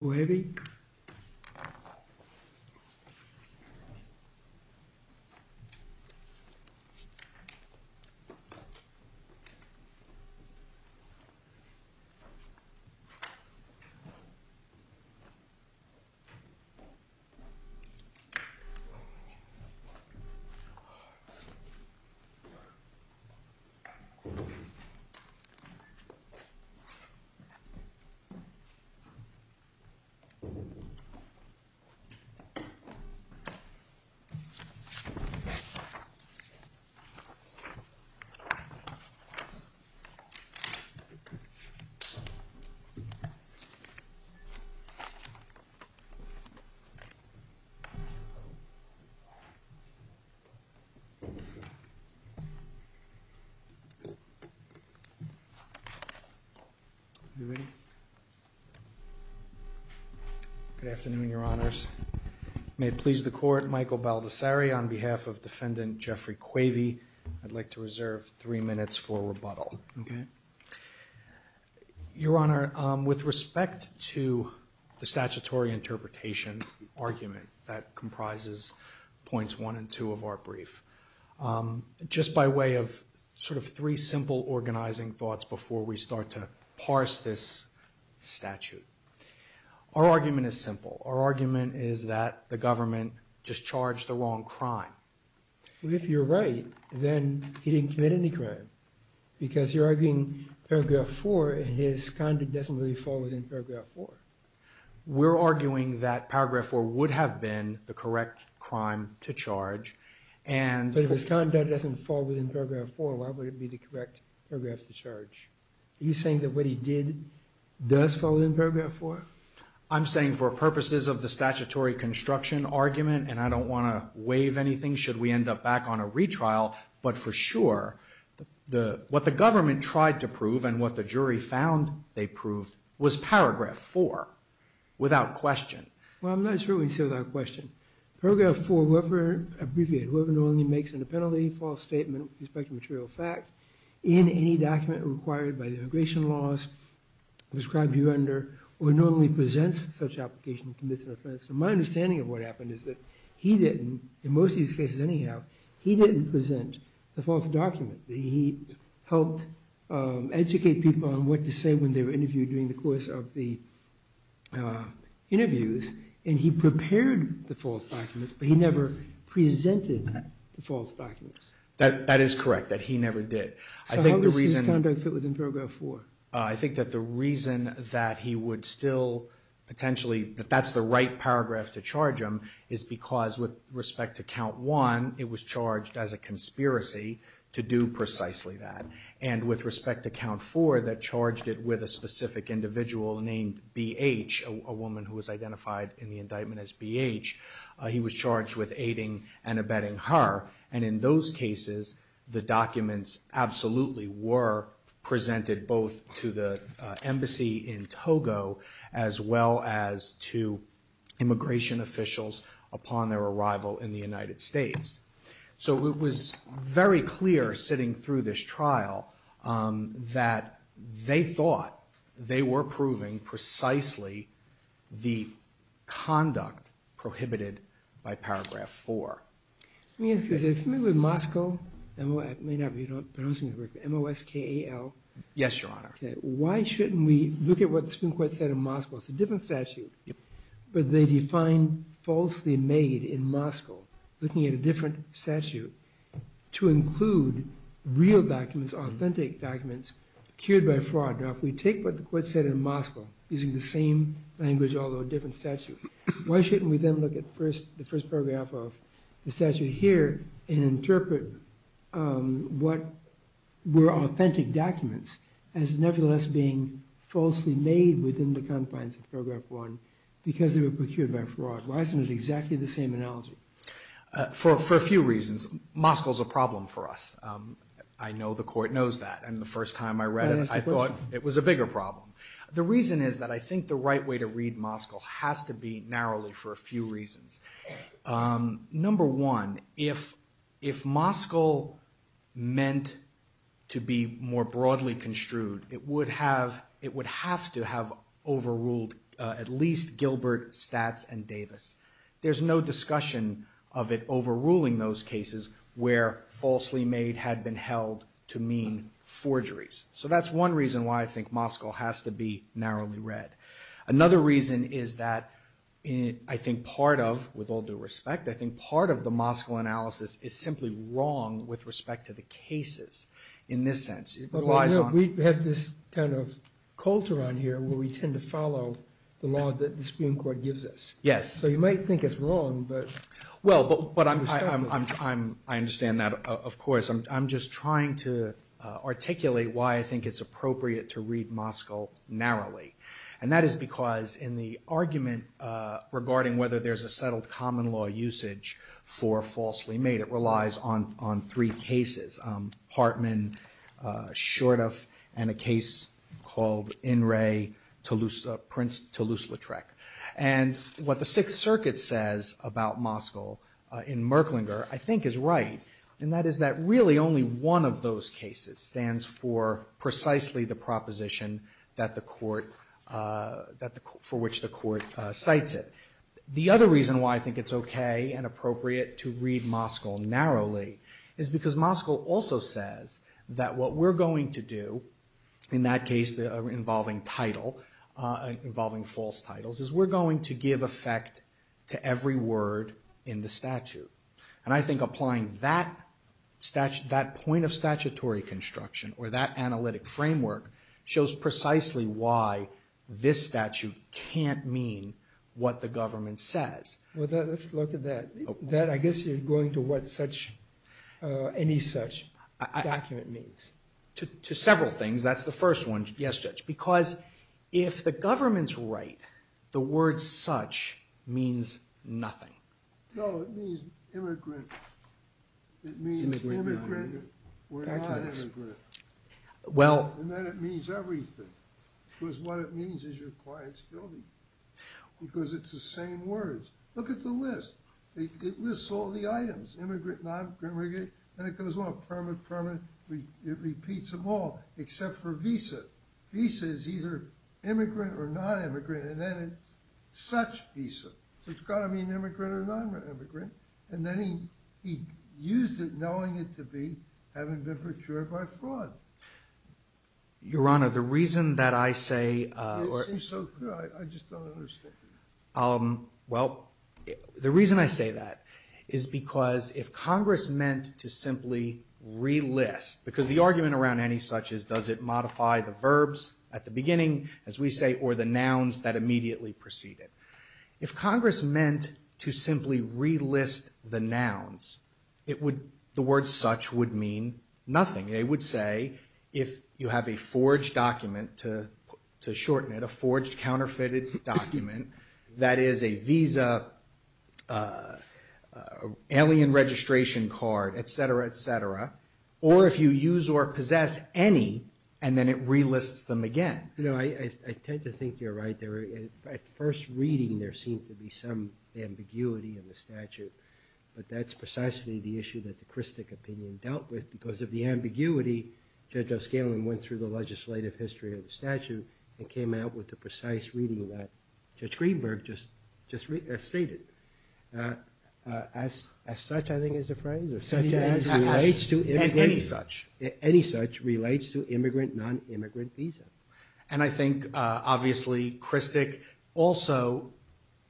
Formula Please check the link in the description for the recipe. Good afternoon, Your Honors. May it please the Court, Michael Baldessari on behalf of Defendant Jeffrey Quavey, I'd like to reserve three minutes for rebuttal. Your Honor, with respect to the statutory interpretation argument that comprises points one and two of our brief, just by way of sort of three simple organizing thoughts before we start to parse this statute, our argument is simple. Our argument is that the government just charged the wrong crime. If you're right, then he didn't commit any crime, because you're arguing paragraph four and his conduct doesn't really fall within paragraph four. We're arguing that paragraph four would have been the correct crime to charge and... But if his conduct doesn't fall within paragraph four, why would it be the correct paragraph to charge? Are you saying that what he did does fall within paragraph four? I'm saying for purposes of the statutory construction argument, and I don't want to waive anything should we end up back on a retrial, but for sure, what the government tried to prove and what the jury found they proved was paragraph four, without question. Well, I'm not sure what you said without question. Paragraph four, what we're abbreviating, what we're doing makes it a penalty, false statement with respect to material fact, in any document required by the immigration laws prescribed to you under, or normally presents such application, commits an offense. My understanding of what happened is that he didn't, in most of these cases anyhow, he didn't present the false document. He helped educate people on what to say when they were interviewed during the course of the interviews, and he prepared the false documents, but he never presented the false documents. That is correct, that he never did. I think the reason that he would still, potentially, that that's the right paragraph to charge him is because with respect to count one, it was charged as a conspiracy to do precisely that, and with respect to count four, that charged it with a specific individual named BH, a woman who was identified in the indictment as BH. He was charged with aiding and abetting her, and in those cases, the documents absolutely were presented both to the embassy in Togo, as well as to immigration officials upon their arrival in the United States. So it was very clear sitting through this trial that they thought they were proving precisely the conduct prohibited by paragraph four. Let me ask you this. If you're familiar with Moscow, M-O-S-K-A-L? Yes, Your Honor. Why shouldn't we look at what the Supreme Court said in Moscow? It's a different statute, but they define falsely made in Moscow, looking at a different statute, to include real documents, authentic documents, procured by fraud. Now if we take what the court said in Moscow, using the same language, although a different statute, why shouldn't we then look at the first paragraph of the statute here and interpret what were authentic documents as nevertheless being falsely made within the confines of paragraph one because they were procured by fraud? Why isn't it exactly the same analogy? For a few reasons. Moscow's a problem for us. I know the court knows that, and the first time I read it, I thought it was a bigger problem. The reason is that I think the right way to read Moscow has to be narrowly for a few reasons. Number one, if Moscow meant to be more broadly construed, it would have to have overruled at least Gilbert, Statz, and Davis. There's no discussion of it overruling those cases where falsely made had been held to mean forgeries. So that's one reason why I think Moscow has to be narrowly read. Another reason is that I think part of, with all due respect, I think part of the Moscow analysis is simply wrong with respect to the cases in this sense. We have this kind of culture on here where we tend to follow the law that the Supreme Court gives us. So you might think it's wrong, but... Well, but I understand that, of course. I'm just trying to articulate why I think it's appropriate to read Moscow narrowly, and that is because in the argument regarding whether there's a settled common law usage for falsely made, it relies on three cases, Hartman, Shortoff, and a case called In Re, Prince Toulouse-Lautrec. And what the Sixth Circuit says about Moscow in Merklinger I think is right, and that is that really only one of those cases stands for precisely the proposition for which the court cites it. The other reason why I think it's okay and appropriate to read Moscow narrowly is because Moscow also says that what we're going to do, in that case involving title, involving false titles, is we're going to give effect to every word in the statute. And I think applying that point of statutory construction or that Well, let's look at that. I guess you're going to what any such document means. To several things. That's the first one, yes, Judge. Because if the government's right, the word such means nothing. No, it means immigrant. It means immigrant or non-immigrant. And then it means everything. Because what it means is your client's guilty. Because it's the same words. Look at the list. It lists all the items. Immigrant, non-immigrant. And it goes on. Permanent, permanent. It repeats them all. Except for visa. Visa is either immigrant or non-immigrant. And then it's such visa. So it's got to mean immigrant or non-immigrant. And then he used it knowing it to be having been procured by fraud. Your Honor, the reason that I say It seems so clear. I just don't understand. Well, the reason I say that is because if Congress meant to simply relist, because the argument around any such is does it modify the verbs at the beginning, as we say, or the nouns that immediately precede it. If Congress meant to simply relist the nouns, the word such would mean nothing. They would say if you have a forged document, to shorten it, a forged counterfeited document that is a visa, alien registration card, etc., etc. Or if you use or possess any, and then it relists them again. No, I tend to think you're right there. At first reading, there seemed to be some ambiguity in the statute. But that's precisely the issue that the Christic opinion dealt with. Because of the ambiguity, Judge O'Scallion went through the legislative history of the statute and came out with a precise reading that Judge Greenberg just stated. As such, I think, is the phrase. Any such relates to immigrant, non-immigrant visa. And I think, obviously, Christic also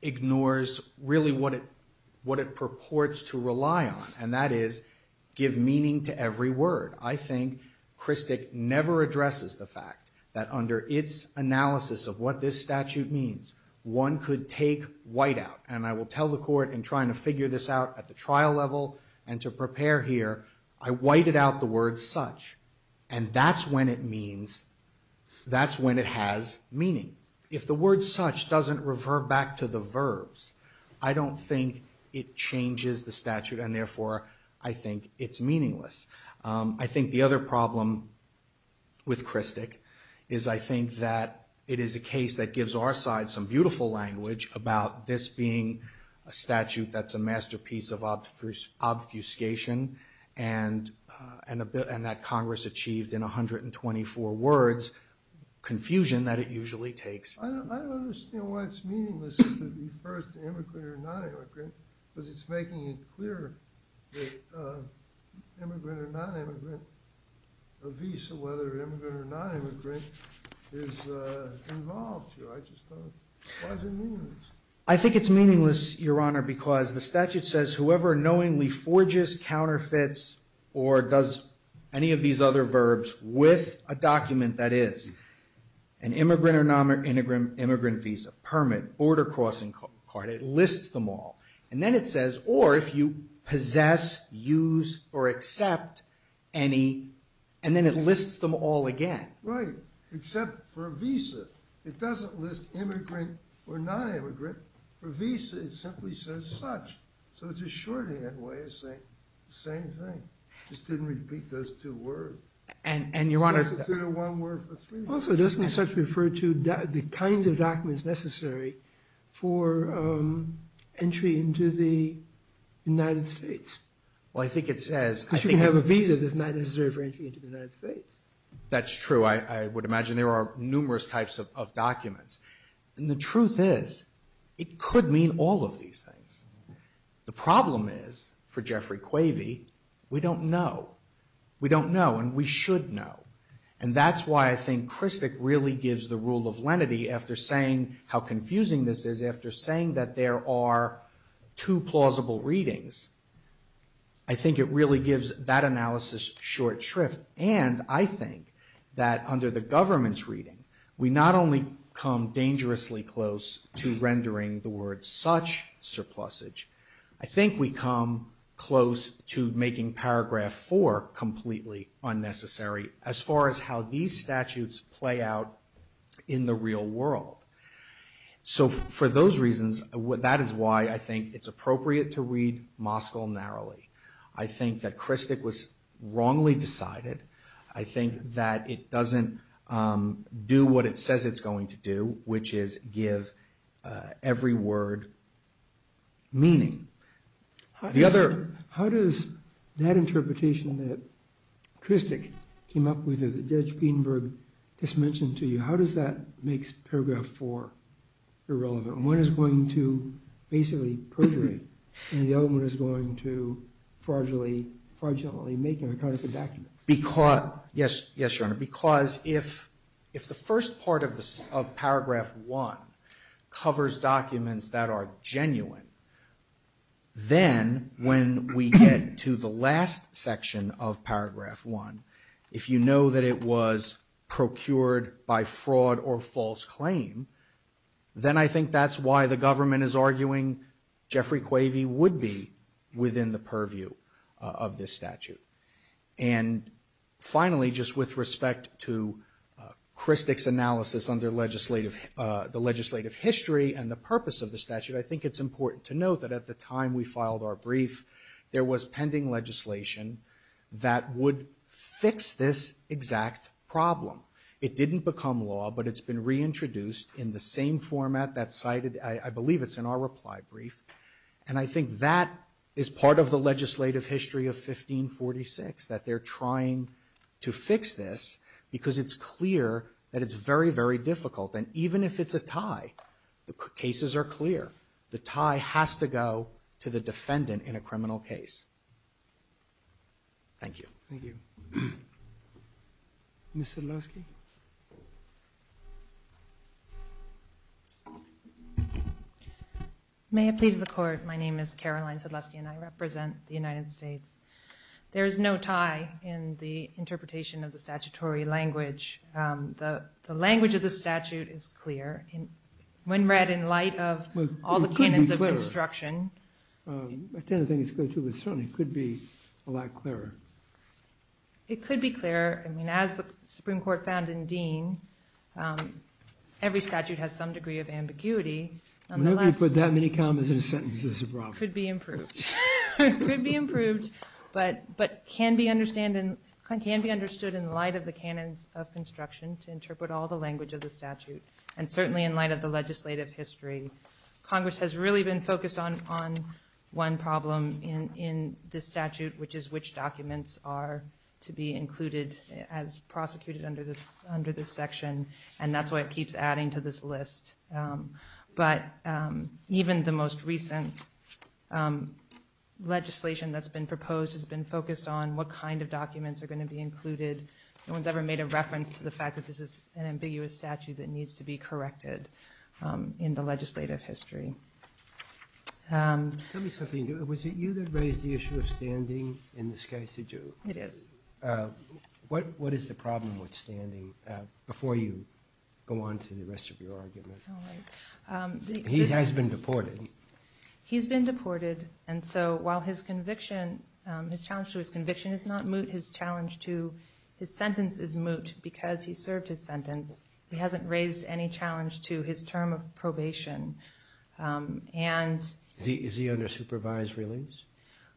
ignores really what it purports to rely on, and that is give meaning to every word. I think Christic never addresses the fact that under its analysis of what this statute means, one could take white out. And I will tell the court in trying to figure this out at the trial level and to prepare here, I whited out the word such. And that's when it means, that's when it has meaning. If the word such doesn't revert back to the verbs, I don't think it changes the statute. And therefore, I think it's meaningless. I think the other problem with Christic is I think that it is a case that gives our side some beautiful language about this being a statute that's a masterpiece of obfuscation and that Congress achieved in 124 words confusion that it usually takes. I don't understand why it's meaningless to be first immigrant or non-immigrant because it's making it clear that immigrant or non-immigrant visa, whether immigrant or non-immigrant, is involved here. Why is it meaningless? I think it's meaningless, Your Honor, because the statute says, whoever knowingly forges, counterfeits, or does any of these other verbs with a document that is an immigrant or non-immigrant visa, permit, border crossing card, it lists them all. And then it says, or if you possess, use, or accept any, and then it lists them all again. Right, except for a visa. It doesn't list immigrant or non-immigrant. For visa, it simply says such. So it's a shorthand way of saying the same thing. It just didn't repeat those two words. And, Your Honor, It's actually two to one word for three. Also, doesn't such refer to the kinds of documents necessary for entry into the United States? Well, I think it says If you have a visa, it's not necessary for entry into the United States. That's true. I would imagine there are numerous types of documents. And the truth is, it could mean all of these things. The problem is, for Jeffrey Quavey, we don't know. We don't know, and we should know. And that's why I think Kristic really gives the rule of lenity after saying how confusing this is, after saying that there are two plausible readings. I think it really gives that analysis short shrift. And I think that under the government's reading, we not only come dangerously close to rendering the word such surplusage, I think we come close to making paragraph four completely unnecessary as far as how these statutes play out in the real world. So for those reasons, that is why I think it's appropriate to read Moscow narrowly. I think that Kristic was wrongly decided. I think that it doesn't do what it says it's going to do, which is give every word meaning. How does that interpretation that Kristic came up with, that Judge Greenberg just mentioned to you, how does that make paragraph four irrelevant? One is going to basically perjure it, and the other one is going to fraudulently make a record of the document. Yes, Your Honor, because if the first part of paragraph one covers documents that are genuine, then when we get to the last section of paragraph one, if you know that it was procured by fraud or false claim, then I think that's why the government is arguing Jeffrey Quavey would be within the purview of this statute. And finally, just with respect to Kristic's analysis under the legislative history and the purpose of the statute, I think it's important to note that at the time we filed our brief, there was pending legislation that would fix this exact problem. It didn't become law, but it's been reintroduced in the same format that cited, I believe it's in our reply brief, and I think that is part of the legislative history of 1546, that they're trying to fix this because it's clear that it's very, very difficult. And even if it's a tie, the cases are clear. The tie has to go to the defendant in a criminal case. Thank you. Thank you. Ms. Sedlowski? May it please the Court, my name is Caroline Sedlowski and I represent the United States. There is no tie in the interpretation of the statutory language. The language of the statute is clear. When read in light of all the canons of instruction. I tend to think it's clear too, but it certainly could be a lot clearer. It could be clearer. I mean, as the Supreme Court found in Dean, every statute has some degree of ambiguity. Whenever you put that many commas in a sentence, there's a problem. It could be improved. It could be improved, but can be understood in light of the canons of construction to interpret all the language of the statute, and certainly in light of the legislative history. Congress has really been focused on one problem in this statute, which is which documents are to be included as prosecuted under this section, and that's why it keeps adding to this list. But even the most recent legislation that's been proposed has been focused on what kind of documents are going to be included. No one's ever made a reference to the fact that this is an ambiguous statute that needs to be corrected in the legislative history. Tell me something. Was it you that raised the issue of standing in this case? It is. What is the problem with standing? Before you go on to the rest of your argument. He has been deported. He's been deported, and so while his conviction, his challenge to his conviction is not moot, his sentence is moot because he served his sentence. He hasn't raised any challenge to his term of probation. Is he under supervised release?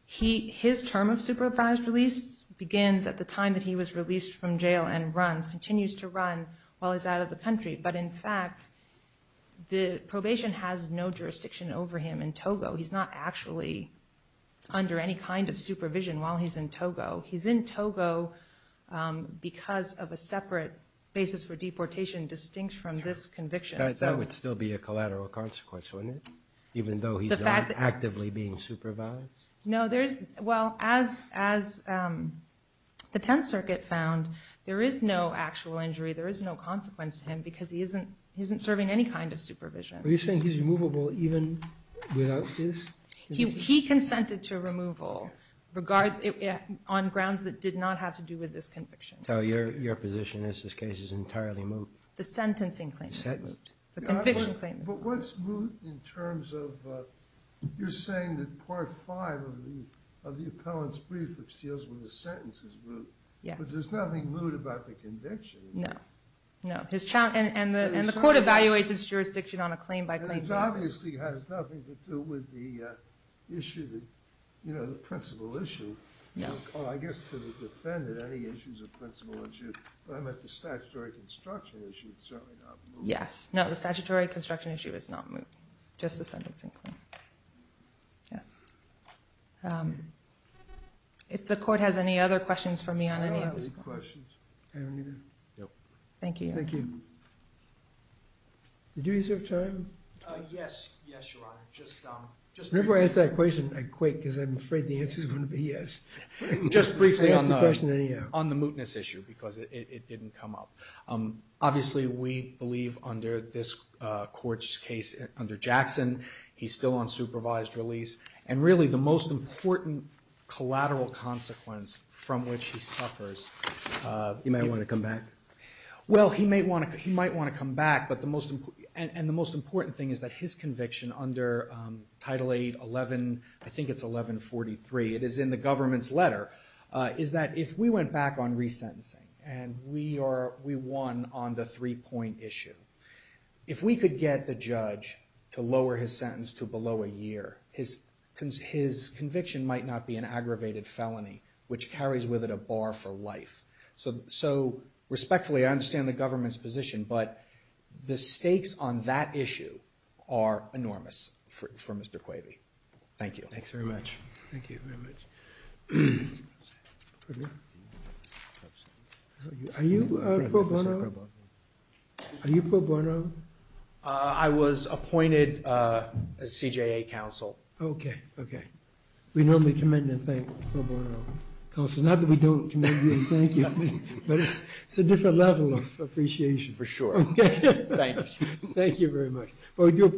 His term of supervised release begins at the time that he was released from jail and continues to run while he's out of the country, but in fact the probation has no jurisdiction over him in Togo. He's not actually under any kind of supervision while he's in Togo. He's in Togo because of a separate basis for deportation distinct from this conviction. That would still be a collateral consequence, wouldn't it, even though he's not actively being supervised? No. Well, as the Tenth Circuit found, there is no actual injury. There is no consequence to him because he isn't serving any kind of supervision. Are you saying he's removable even without his? He consented to removal on grounds that did not have to do with this conviction. So your position is this case is entirely moot? The sentencing claim is moot. The conviction claim is moot. But what's moot in terms of you're saying that Part V of the appellant's brief, which deals with the sentence, is moot. Yes. But there's nothing moot about the conviction. No, no. And the court evaluates its jurisdiction on a claim by claim. It obviously has nothing to do with the principle issue. I guess to the defendant, any issue is a principle issue. But the statutory construction issue is certainly not moot. Yes. No, the statutory construction issue is not moot. Just the sentencing claim. Yes. If the court has any other questions for me on any of this point. I don't have any questions. Thank you. Thank you. Did you reserve time? Yes. Yes, Your Honor. Just briefly. Whenever I ask that question, I quake because I'm afraid the answer is going to be yes. Just briefly on the mootness issue because it didn't come up. Obviously, we believe under this court's case, under Jackson, he's still on supervised release. And really the most important collateral consequence from which he suffers. He might want to come back. Well, he might want to come back. And the most important thing is that his conviction under Title 8, I think it's 1143, it is in the government's letter, is that if we went back on resentencing, and we won on the three-point issue, if we could get the judge to lower his sentence to below a year, his conviction might not be an aggravated felony, which carries with it a bar for life. So respectfully, I understand the government's position, but the stakes on that issue are enormous for Mr. Quavey. Thank you. Thanks very much. Thank you very much. Are you pro bono? Are you pro bono? I was appointed as CJA counsel. Okay. Okay. We normally commend and thank pro bono counsels. Not that we don't commend you and thank you. But it's a different level of appreciation. For sure. Thank you. Thank you very much.